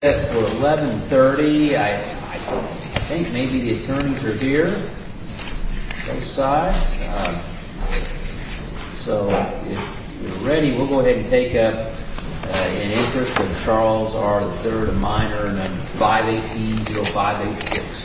At 1130, I think maybe the attorneys are here, both sides, so if you're ready, we'll go ahead and take up an Interest of Charles R. III, a minor, and then 518-0586.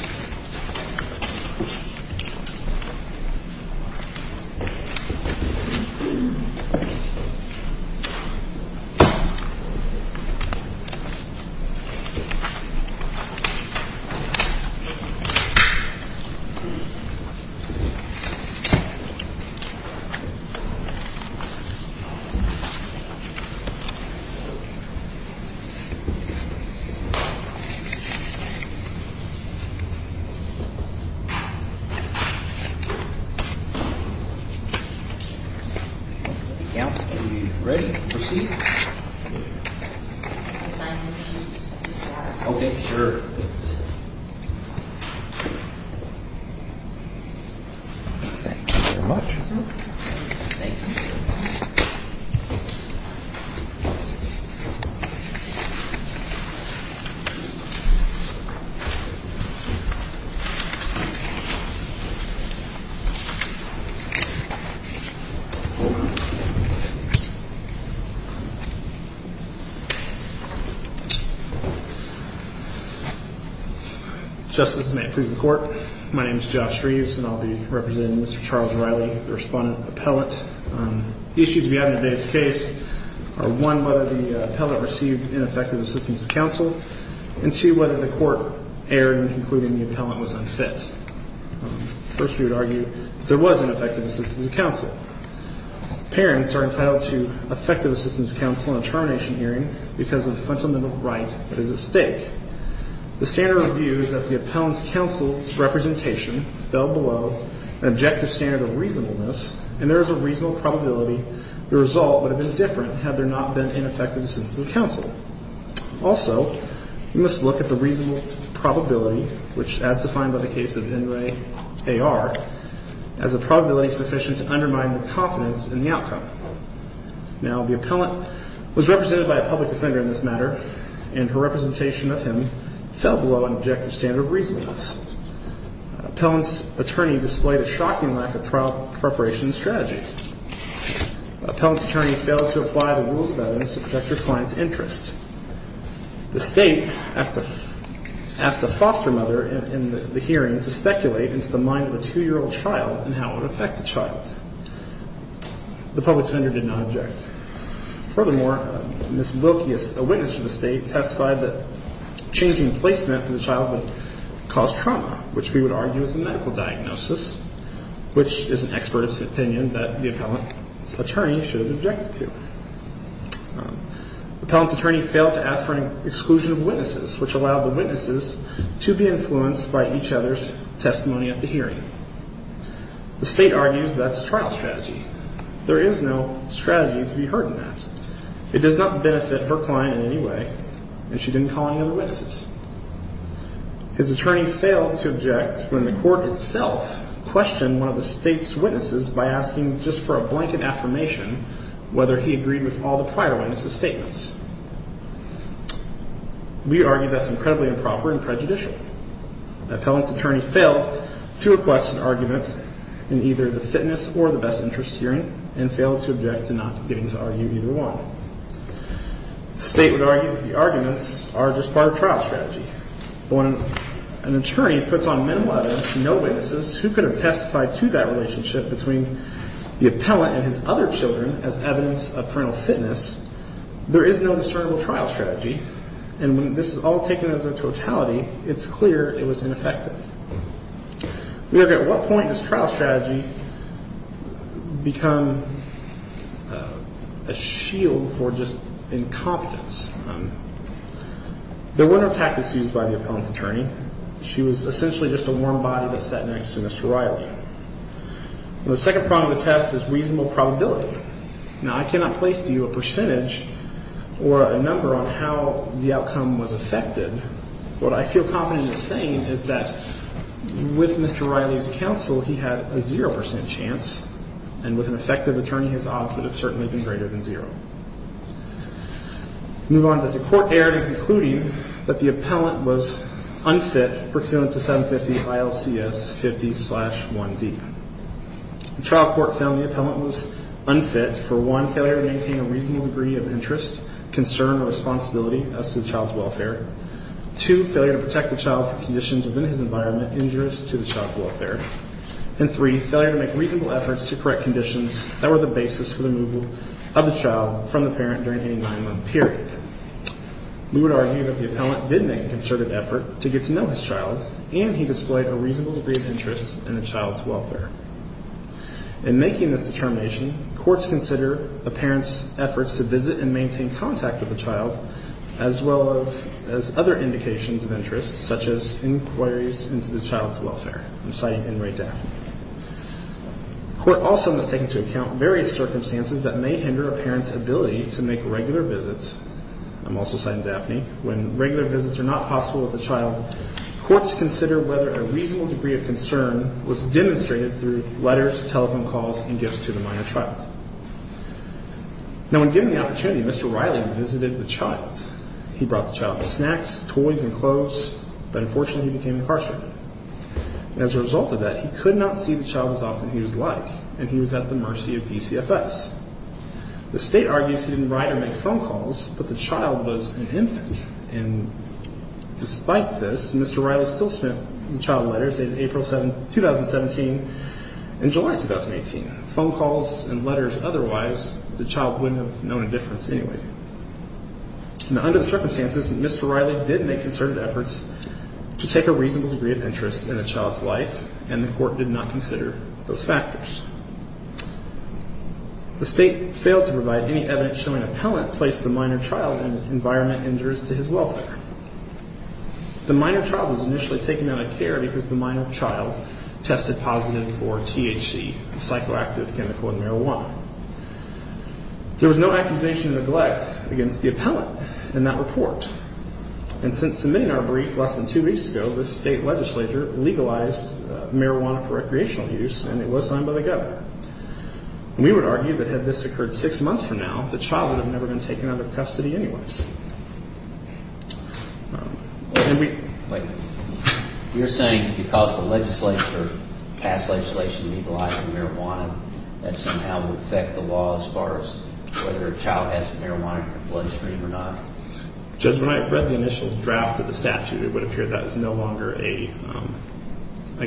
If you're ready, proceed. Can I have a piece of paper? Okay, sure. Thank you very much. Thank you. May it please the Court, my name is Josh Reeves, and I'll be representing Mr. Charles O'Reilly, the respondent appellant. Issues we have in today's case are one, whether the appellant received ineffective assistance of counsel, and two, whether the Court erred in concluding the appellant was unfit. First, we would argue that there was ineffective assistance of counsel. Parents are entitled to effective assistance of counsel in a termination hearing because of the fundamental right that is at stake. The standard of view is that the appellant's counsel's representation fell below an objective standard of reasonableness, and there is a reasonable probability the result would have been different had there not been ineffective assistance of counsel. Also, we must look at the reasonable probability, which as defined by the case of Inouye A.R., as a probability sufficient to undermine the confidence in the outcome. Now, the appellant was represented by a public defender in this matter, and her representation of him fell below an objective standard of reasonableness. Appellant's attorney displayed a shocking lack of trial preparation strategy. Appellant's attorney failed to apply the rules of evidence to protect her client's interest. The State asked a foster mother in the hearing to speculate into the mind of a two-year-old child and how it would affect the child. The public defender did not object. Furthermore, Ms. Wilkie, a witness for the State, testified that changing placement for the child would cause trauma, which we would argue is a medical diagnosis, which is an expert opinion that the appellant's attorney should have objected to. Appellant's attorney failed to ask for an exclusion of witnesses, which allowed the witnesses to be influenced by each other's testimony at the hearing. The State argues that's a trial strategy. There is no strategy to be heard in that. It does not benefit her client in any way, and she didn't call any other witnesses. His attorney failed to object when the court itself questioned one of the State's witnesses by asking just for a blanket affirmation whether he agreed with all the prior witnesses' statements. We argue that's incredibly improper and prejudicial. Appellant's attorney failed to request an argument in either the fitness or the best interest hearing and failed to object to not getting to argue either one. The State would argue that the arguments are just part of trial strategy. When an attorney puts on minimal evidence, no witnesses, who could have testified to that relationship between the appellant and his other children as evidence of parental fitness? There is no discernible trial strategy, and when this is all taken as a totality, it's clear it was ineffective. We look at what point does trial strategy become a shield for just incompetence. There were no tactics used by the appellant's attorney. She was essentially just a warm body that sat next to Mr. Riley. The second problem of the test is reasonable probability. Now, I cannot place to you a percentage or a number on how the outcome was affected. What I feel confident in saying is that with Mr. Riley's counsel, he had a 0 percent chance, and with an effective attorney, his odds would have certainly been greater than 0. Move on to the court error in concluding that the appellant was unfit pursuant to 750 ILCS 50-1D. The trial court found the appellant was unfit for, one, failure to maintain a reasonable degree of interest, concern, or responsibility as to the child's welfare. Two, failure to protect the child from conditions within his environment injurious to the child's welfare. And three, failure to make reasonable efforts to correct conditions that were the basis for the removal of the child from the parent during a nine-month period. We would argue that the appellant did make a concerted effort to get to know his child, and he displayed a reasonable degree of interest in the child's welfare. In making this determination, courts consider a parent's efforts to visit and maintain contact with the child, as well as other indications of interest, such as inquiries into the child's welfare. I'm citing in Ray Daphne. The court also must take into account various circumstances that may hinder a parent's ability to make regular visits. I'm also citing Daphne. When regular visits are not possible with the child, courts consider whether a reasonable degree of concern was demonstrated through letters, telephone calls, and gifts to the minor child. Now, when given the opportunity, Mr. Riley visited the child. He brought the child snacks, toys, and clothes, but unfortunately he became incarcerated. As a result of that, he could not see the child as often as he would like, and he was at the mercy of DCFS. The state argues he didn't write or make phone calls, but the child was an infant. And despite this, Mr. Riley still sent the child letters dated April 2017 and July 2018. Phone calls and letters otherwise, the child wouldn't have known a difference anyway. Now, under the circumstances, Mr. Riley did make concerted efforts to take a reasonable degree of interest in the child's life, and the court did not consider those factors. The state failed to provide any evidence showing a parent placed the minor child in an environment injurious to his welfare. The minor child was initially taken out of care because the minor child tested positive for THC, a psychoactive chemical in marijuana. There was no accusation of neglect against the appellant in that report, and since submitting our brief less than two weeks ago, the state legislature legalized marijuana for recreational use, and it was signed by the governor. And we would argue that had this occurred six months from now, the child would have never been taken out of custody anyways. And we... You're saying because the legislature passed legislation legalizing marijuana, that somehow would affect the law as far as whether a child has marijuana in their bloodstream or not? Judge, when I read the initial draft of the statute, it would appear that is no longer a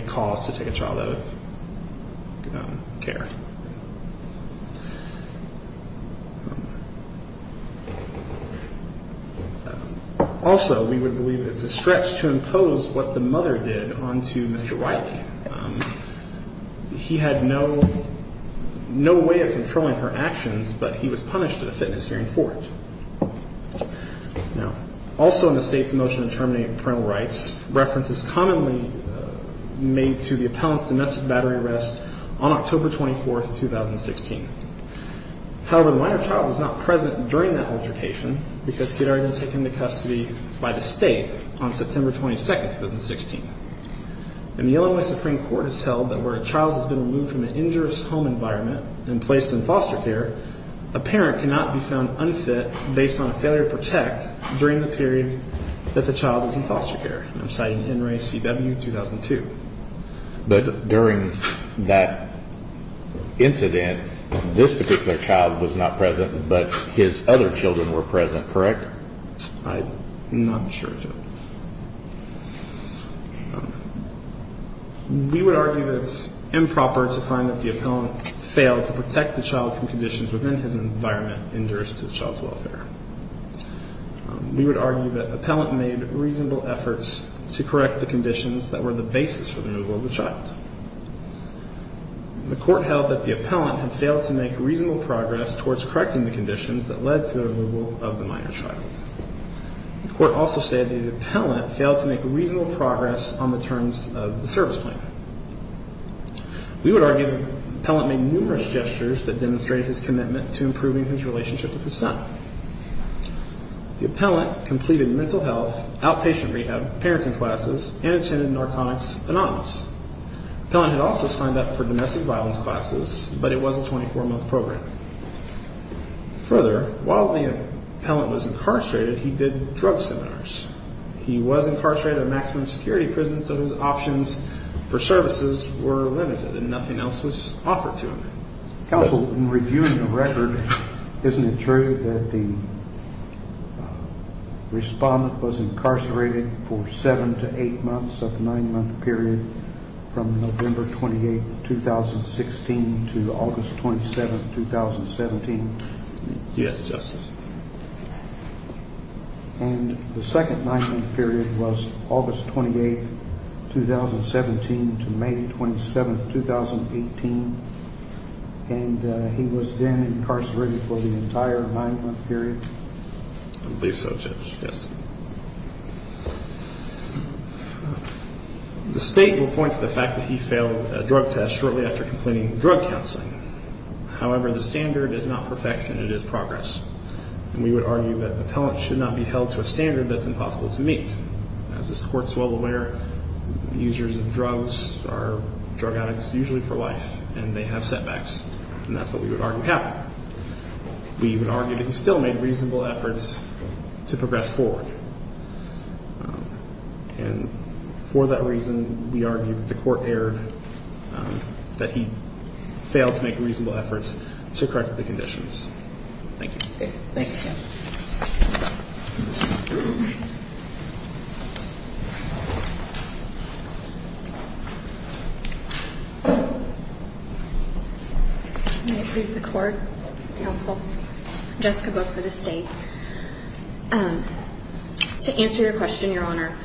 cause to take a child out of care. Also, we would believe it's a stretch to impose what the mother did onto Mr. Wiley. He had no way of controlling her actions, but he was punished at a fitness hearing for it. Now, also in the state's motion to terminate parental rights, reference is commonly made to the appellant's domestic battery arrest on October 24th, 2016. However, the minor child was not present during that altercation because he had already been taken into custody by the state on September 22nd, 2016. And the Illinois Supreme Court has held that where a child has been removed from an injurious home environment and placed in foster care, a parent cannot be found unfit based on a failure to protect during the period that the child is in foster care. I'm citing NRACW-2002. But during that incident, this particular child was not present, but his other children were present, correct? I'm not sure, Judge. We would argue that it's improper to find that the appellant failed to protect the child from conditions within his environment injurious to child's welfare. We would argue that appellant made reasonable efforts to correct the conditions that were the basis for the removal of the child. The court held that the appellant had failed to make reasonable progress towards correcting the conditions that led to the removal of the minor child. The court also stated the appellant failed to make reasonable progress on the terms of the service plan. We would argue the appellant made numerous gestures that demonstrated his commitment to improving his relationship with his son. The appellant completed mental health, outpatient rehab, parenting classes, and attended Narconics Anonymous. The appellant had also signed up for domestic violence classes, but it was a 24-month program. Further, while the appellant was incarcerated, he did drug seminars. He was incarcerated at a maximum security prison, so his options for services were limited and nothing else was offered to him. Counsel, in reviewing the record, isn't it true that the respondent was incarcerated for seven to eight months of a nine-month period from November 28, 2016, to August 27, 2017? Yes, Justice. And the second nine-month period was August 28, 2017, to May 27, 2018, and he was then incarcerated for the entire nine-month period? I believe so, Judge, yes. The State will point to the fact that he failed a drug test shortly after completing drug counseling. However, the standard is not perfection, it is progress, and we would argue that the appellant should not be held to a standard that's impossible to meet. As this Court is well aware, users of drugs are drug addicts usually for life, and they have setbacks, and that's what we would argue happened. We would argue that he still made reasonable efforts to progress forward, and for that reason, we argue that the Court erred, that he failed to make reasonable efforts to correct the conditions. Thank you. Thank you. May it please the Court, Counsel, Jessica Book for the State. To answer your question, Your Honor,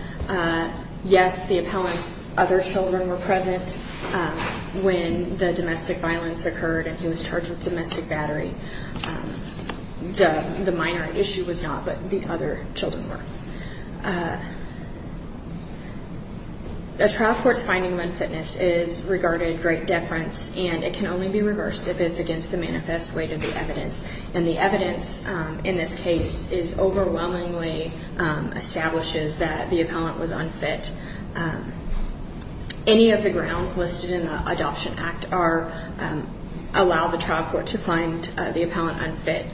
yes, the appellant's other children were present when the domestic violence occurred, and he was charged with domestic battery. The minor issue was not what the other children were. A trial court's finding of unfitness is regarded great deference, and it can only be reversed if it's against the manifest weight of the evidence, and the evidence in this case overwhelmingly establishes that the appellant was unfit. Any of the grounds listed in the Adoption Act allow the trial court to find the appellant unfit.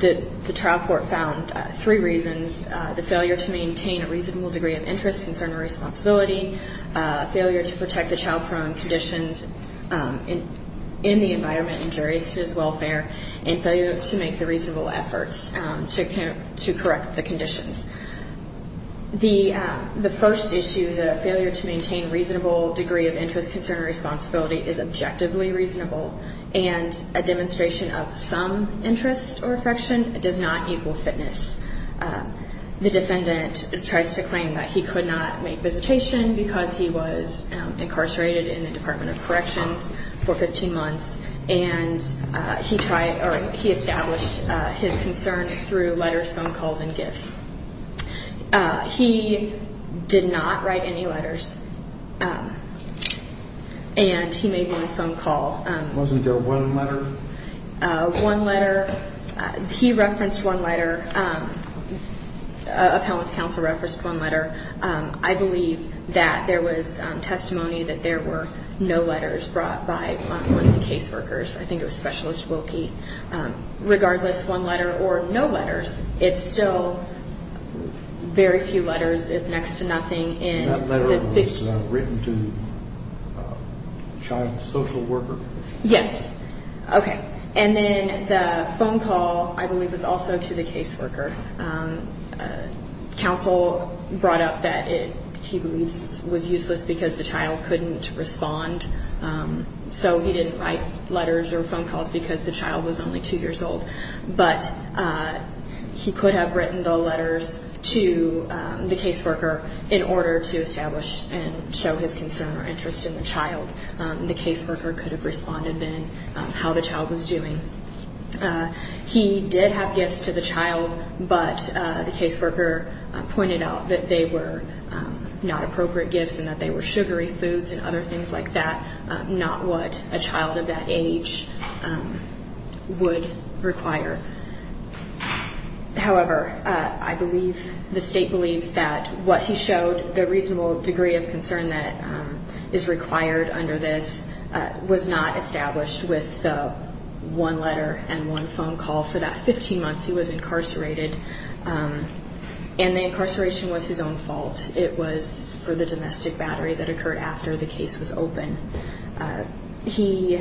The trial court found three reasons, the failure to maintain a reasonable degree of interest, concern and responsibility, failure to protect the child from conditions in the environment injurious to his welfare, and failure to make the reasonable efforts to correct the conditions. The first issue, the failure to maintain reasonable degree of interest, concern and responsibility is objectively reasonable, and a demonstration of some interest or affection does not equal fitness. The defendant tries to claim that he could not make visitation because he was incarcerated in the Department of Corrections for 15 months, and he established his concern through letters, phone calls and gifts. He did not write any letters, and he made one phone call. Wasn't there one letter? One letter. He referenced one letter. Appellant's counsel referenced one letter. I believe that there was testimony that there were no letters brought by one of the caseworkers. I think it was Specialist Wilkie. Regardless, one letter or no letters, it's still very few letters, if next to nothing. That letter was written to the child's social worker? Yes. Okay. And then the phone call, I believe, was also to the caseworker. Counsel brought up that he believes it was useless because the child couldn't respond, so he didn't write letters or phone calls because the child was only two years old. But he could have written the letters to the caseworker in order to establish and show his concern or interest in the child. The caseworker could have responded then how the child was doing. He did have gifts to the child, but the caseworker pointed out that they were not appropriate gifts and that they were sugary foods and other things like that, not what a child of that age would require. However, I believe the State believes that what he showed, the reasonable degree of concern that is required under this, was not established with one letter and one phone call. For that 15 months, he was incarcerated, and the incarceration was his own fault. It was for the domestic battery that occurred after the case was open. He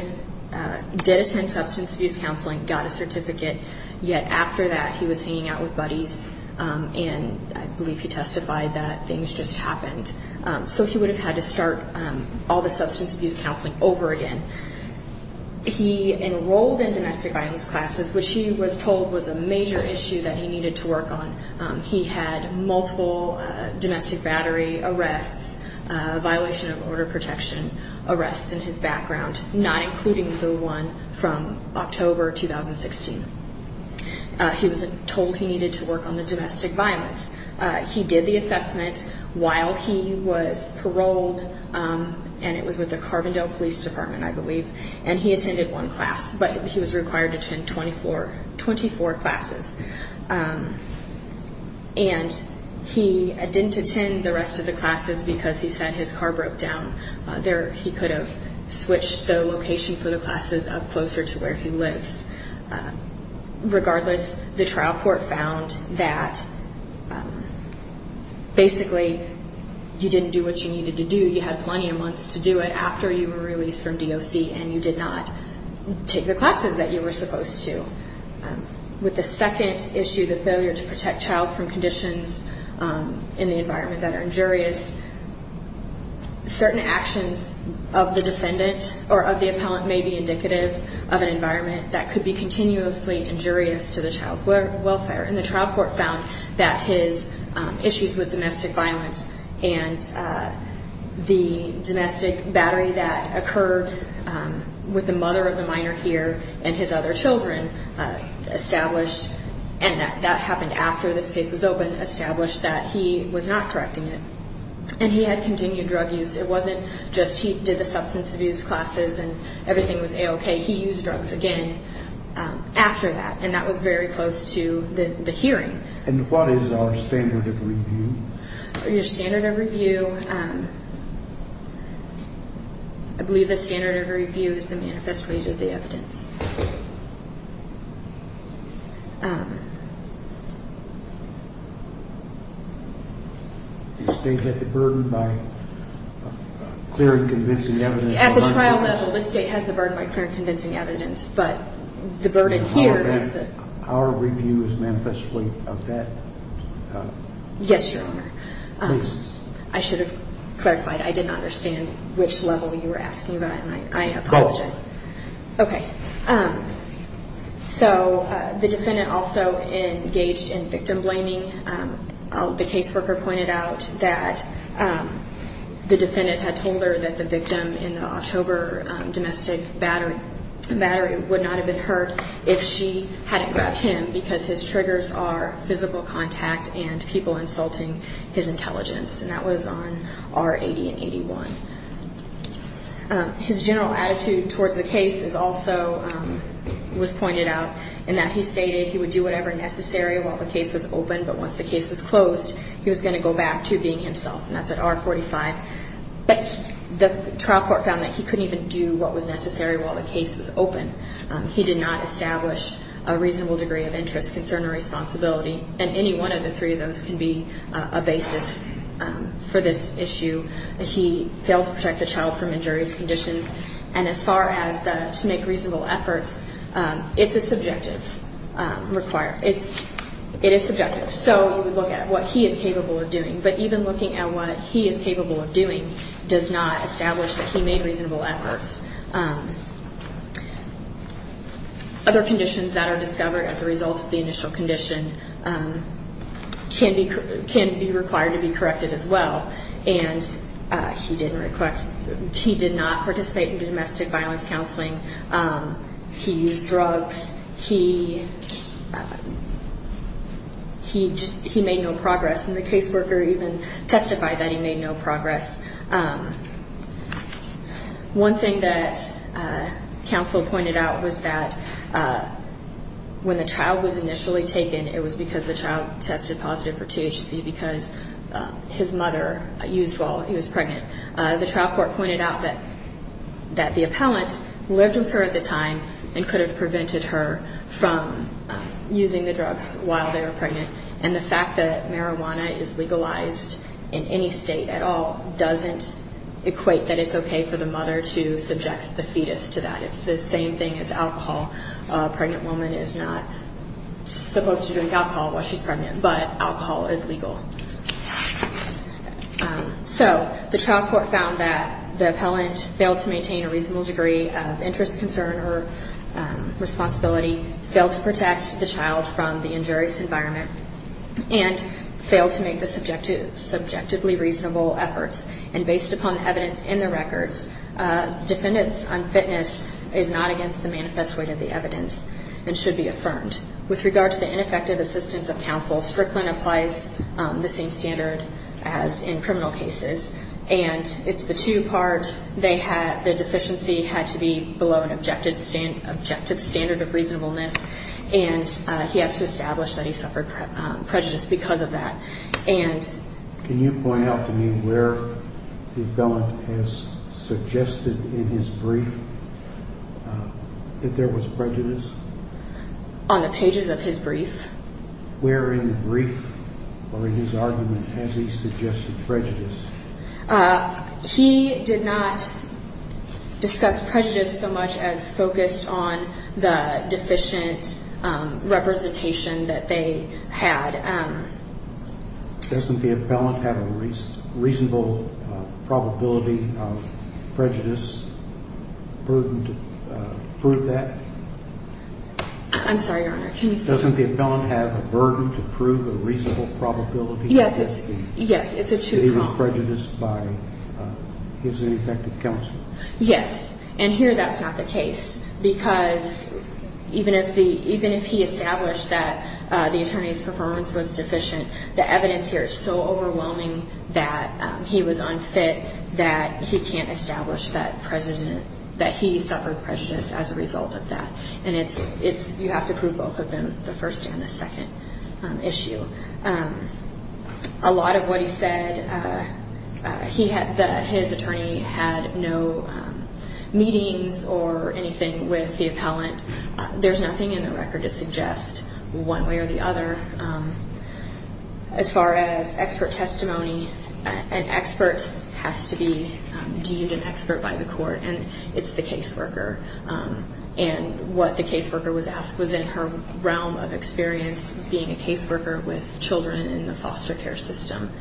did attend substance abuse counseling, got a certificate, yet after that he was hanging out with buddies, and I believe he testified that things just happened. So he would have had to start all the substance abuse counseling over again. He enrolled in domestic violence classes, which he was told was a major issue that he needed to work on. He had multiple domestic battery arrests, violation of order protection arrests in his background, not including the one from October 2016. He was told he needed to work on the domestic violence. He did the assessment while he was paroled, and it was with the Carbondale Police Department, I believe, and he attended one class, but he was required to attend 24 classes. And he didn't attend the rest of the classes because he said his car broke down. He could have switched the location for the classes up closer to where he lives. Regardless, the trial court found that basically you didn't do what you needed to do. You had plenty of months to do it after you were released from DOC and you did not take the classes that you were supposed to. With the second issue, the failure to protect child from conditions in the environment that are injurious, certain actions of the defendant or of the appellant may be indicative of an environment that could be continuously injurious to the child's welfare. And the trial court found that his issues with domestic violence and the domestic battery that occurred with the mother of the minor here and his other children established, and that happened after this case was open, established that he was not correcting it. And he had continued drug use. It wasn't just he did the substance abuse classes and everything was A-OK. He used drugs again after that, and that was very close to the hearing. And what is our standard of review? Your standard of review, I believe the standard of review is the manifest way to the evidence. The state had the burden by clear and convincing evidence. At the trial level, the state has the burden by clear and convincing evidence, but the burden here is that our review is manifestly of that. Yes, Your Honor. Please. I should have clarified. I did not understand which level you were asking about, and I apologize. Go. Okay. So the defendant also engaged in victim blaming. The caseworker pointed out that the defendant had told her that the victim in the October domestic battery would not have been hurt if she hadn't grabbed him because his triggers are physical contact and people insulting his intelligence, and that was on R80 and 81. His general attitude towards the case is also was pointed out in that he stated he would do whatever necessary while the case was open, but once the case was closed, he was going to go back to being himself, and that's at R45. But the trial court found that he couldn't even do what was necessary while the case was open. He did not establish a reasonable degree of interest, concern, or responsibility, and any one of the three of those can be a basis for this issue. He failed to protect the child from injurious conditions. And as far as the to make reasonable efforts, it's a subjective requirement. It is subjective. So you would look at what he is capable of doing, but even looking at what he is capable of doing does not establish that he made reasonable efforts. Other conditions that are discovered as a result of the initial condition can be required to be corrected as well, and he did not participate in domestic violence counseling. He used drugs. He made no progress, and the caseworker even testified that he made no progress. One thing that counsel pointed out was that when the child was initially taken, it was because the child tested positive for THC because his mother used while he was pregnant. The trial court pointed out that the appellant lived with her at the time and could have prevented her from using the drugs while they were pregnant, and the fact that marijuana is legalized in any state at all doesn't equate that it's okay for the mother to subject the fetus to that. It's the same thing as alcohol. A pregnant woman is not supposed to drink alcohol while she's pregnant, but alcohol is legal. So the trial court found that the appellant failed to maintain a reasonable degree of interest, concern, or responsibility, failed to protect the child from the injurious environment, and failed to make the subjectively reasonable efforts. And based upon evidence in the records, defendants on fitness is not against the manifest weight of the evidence and should be affirmed. With regard to the ineffective assistance of counsel, Strickland applies the same standard as in criminal cases, and it's the two-part, the deficiency had to be below an objective standard of reasonableness, and he has to establish that he suffered prejudice because of that. Can you point out to me where the appellant has suggested in his brief that there was prejudice? On the pages of his brief. Where in the brief or in his argument has he suggested prejudice? He did not discuss prejudice so much as focused on the deficient representation that they had. Doesn't the appellant have a reasonable probability of prejudice, burden to prove that? I'm sorry, Your Honor. Doesn't the appellant have a burden to prove a reasonable probability? Yes, it's a two-part. He said he was prejudiced by his ineffective counsel. Yes, and here that's not the case because even if he established that the attorney's performance was deficient, the evidence here is so overwhelming that he was unfit, that he can't establish that he suffered prejudice as a result of that. And you have to prove both of them, the first and the second issue. A lot of what he said, his attorney had no meetings or anything with the appellant. There's nothing in the record to suggest one way or the other. As far as expert testimony, an expert has to be deemed an expert by the court, and it's the caseworker. And what the caseworker was asked was in her realm of experience being a caseworker with children in the foster care system.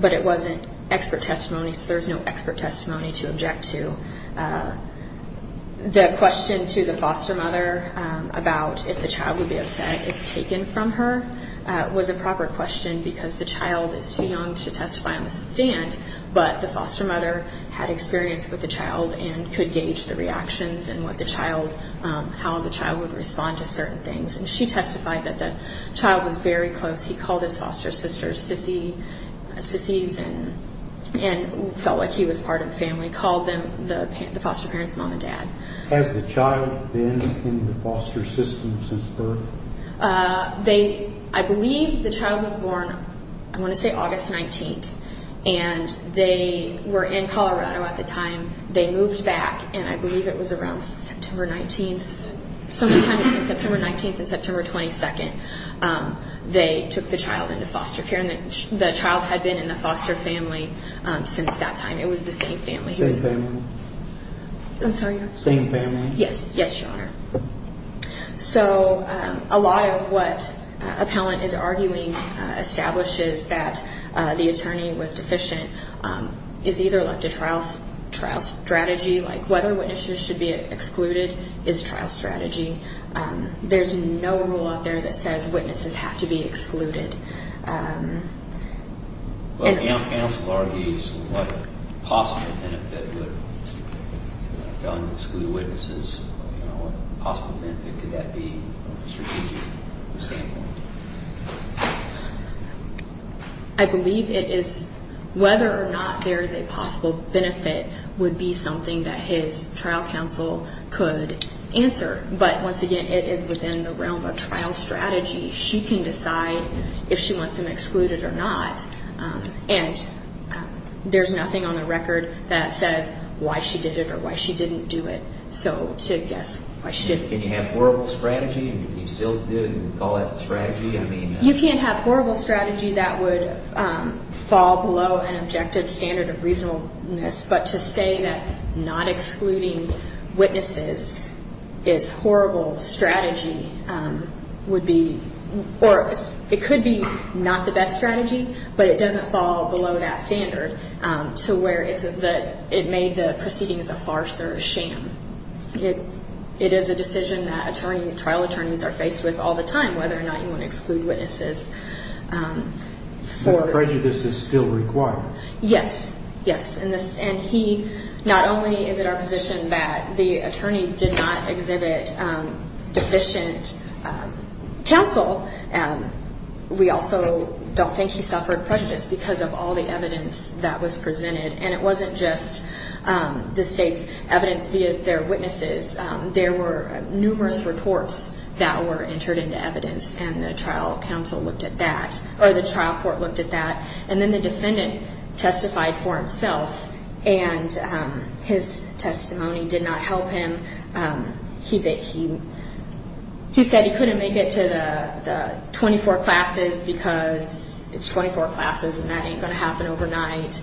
But it wasn't expert testimony, so there's no expert testimony to object to. The question to the foster mother about if the child would be upset if taken from her was a proper question because the child is too young to testify on the stand, but the foster mother had experience with the child and could gauge the reactions and how the child would respond to certain things. And she testified that the child was very close. He called his foster sisters sissies and felt like he was part of the family, called them the foster parents mom and dad. Has the child been in the foster system since birth? I believe the child was born, I want to say August 19th, and they were in Colorado at the time. They moved back, and I believe it was around September 19th. Sometime between September 19th and September 22nd, they took the child into foster care, and the child had been in the foster family since that time. It was the same family. Same family? Same family? Yes. Yes, Your Honor. So a lot of what an appellant is arguing establishes that the attorney was deficient. It's either left to trial strategy, like whether witnesses should be excluded is trial strategy. There's no rule out there that says witnesses have to be excluded. Well, counsel argues what possible benefit would an appellant exclude witnesses. What possible benefit could that be from a strategic standpoint? I believe it is whether or not there is a possible benefit would be something that his trial counsel could answer. But once again, it is within the realm of trial strategy. She can decide if she wants him excluded or not, and there's nothing on the record that says why she did it or why she didn't do it. So to guess why she didn't. Can you have horrible strategy, and you still do, and call that strategy? You can't have horrible strategy. That would fall below an objective standard of reasonableness. But to say that not excluding witnesses is horrible strategy would be, or it could be not the best strategy, but it doesn't fall below that standard to where it made the proceedings a farce or a sham. It is a decision that trial attorneys are faced with all the time, whether or not you want to exclude witnesses. But prejudice is still required. Yes, yes. And he not only is it our position that the attorney did not exhibit deficient counsel, we also don't think he suffered prejudice because of all the evidence that was presented. And it wasn't just the state's evidence via their witnesses. There were numerous reports that were entered into evidence, and the trial counsel looked at that, or the trial court looked at that. And then the defendant testified for himself, and his testimony did not help him. He said he couldn't make it to the 24 classes because it's 24 classes and that ain't going to happen overnight.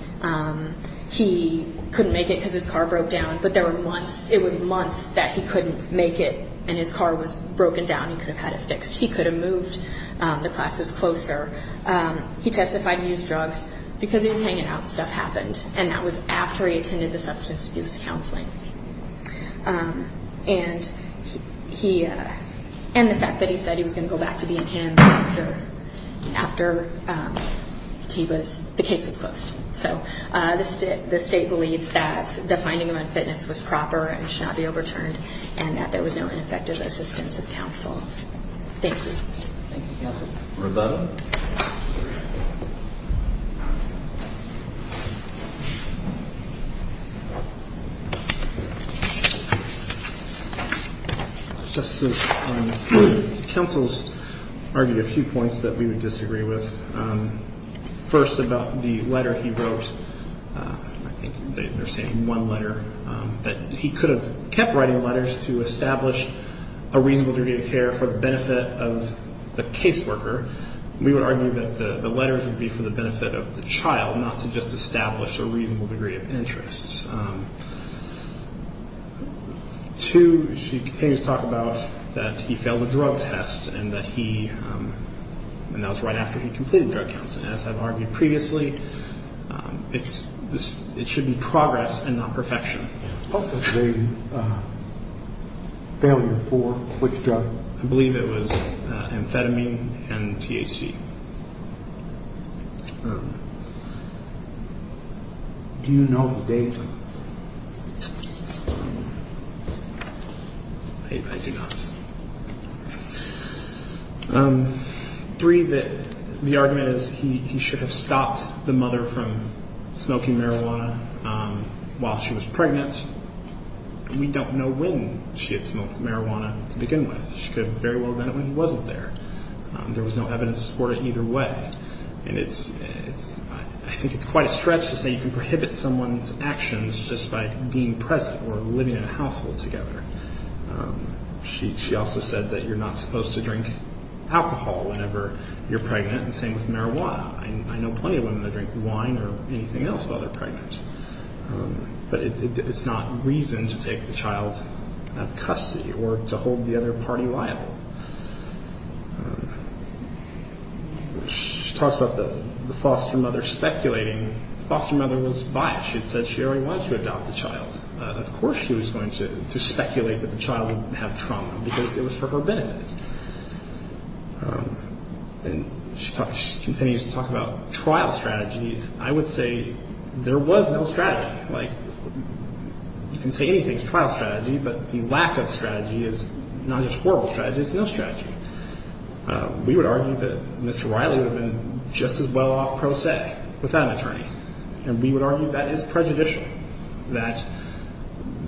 He couldn't make it because his car broke down, but there were months. It was months that he couldn't make it, and his car was broken down. He could have had it fixed. He could have moved the classes closer. He testified he used drugs because he was hanging out and stuff happened, and that was after he attended the substance abuse counseling. And the fact that he said he was going to go back to being him after the case was closed. So the state believes that the finding of unfitness was proper and should not be overturned, and that there was no ineffective assistance of counsel. Thank you. Thank you, Counsel. Reveto? Counsel's argued a few points that we would disagree with. First, about the letter he wrote. I think they're saying one letter, that he could have kept writing letters to establish a reasonable degree of care for the benefit of the caseworker. We would argue that the letters would be for the benefit of the child, not to just establish a reasonable degree of interest. Two, she continues to talk about that he failed a drug test, and that was right after he completed drug counseling. As I've argued previously, it should be progress and not perfection. What was the failure for? Which drug? I believe it was amphetamine and THC. Do you know the date? I do not. Three, the argument is he should have stopped the mother from smoking marijuana while she was pregnant. We don't know when she had smoked marijuana to begin with. She could have very well done it when he wasn't there. There was no evidence to support it either way. And I think it's quite a stretch to say you can prohibit someone's actions just by being present or living in a household together. She also said that you're not supposed to drink alcohol whenever you're pregnant, and the same with marijuana. I know plenty of women that drink wine or anything else while they're pregnant. But it's not reason to take the child out of custody or to hold the other party liable. She talks about the foster mother speculating. The foster mother was biased. She had said she already wanted to adopt the child. Of course she was going to speculate that the child would have trauma because it was for her benefit. She continues to talk about trial strategy. I would say there was no strategy. You can say anything is trial strategy, but the lack of strategy is not just horrible strategy, it's no strategy. We would argue that Mr. Riley would have been just as well off pro se without an attorney. And we would argue that is prejudicial, that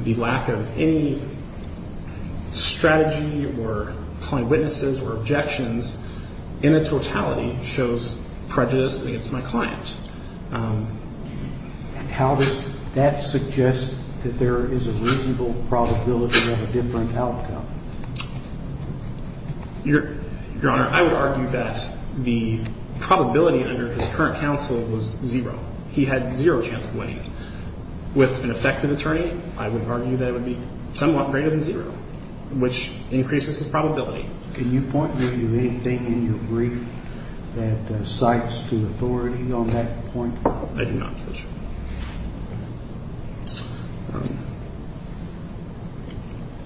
the lack of any strategy or client witnesses or objections in the totality shows prejudice against my client. How does that suggest that there is a reasonable probability of a different outcome? Your Honor, I would argue that the probability under his current counsel was zero. He had zero chance of winning. With an effective attorney, I would argue that it would be somewhat greater than zero, which increases the probability. Can you point me to anything in your brief that cites to authority on that point? I do not, Judge.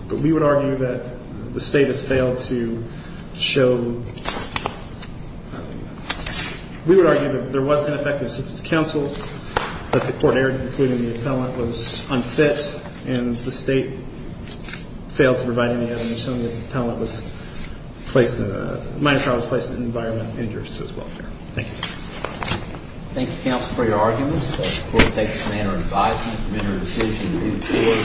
But we would argue that the State has failed to show ‑‑ we would argue that there was ineffective assistance of counsel, that the court error, including the appellant, was unfit, and the State failed to provide any evidence showing that the appellant was placed in a ‑‑ the minor child was placed in an environment of injurious to his welfare. Thank you. Thank you, counsel, for your arguments. The court takes the manner of five minutes to issue the brief.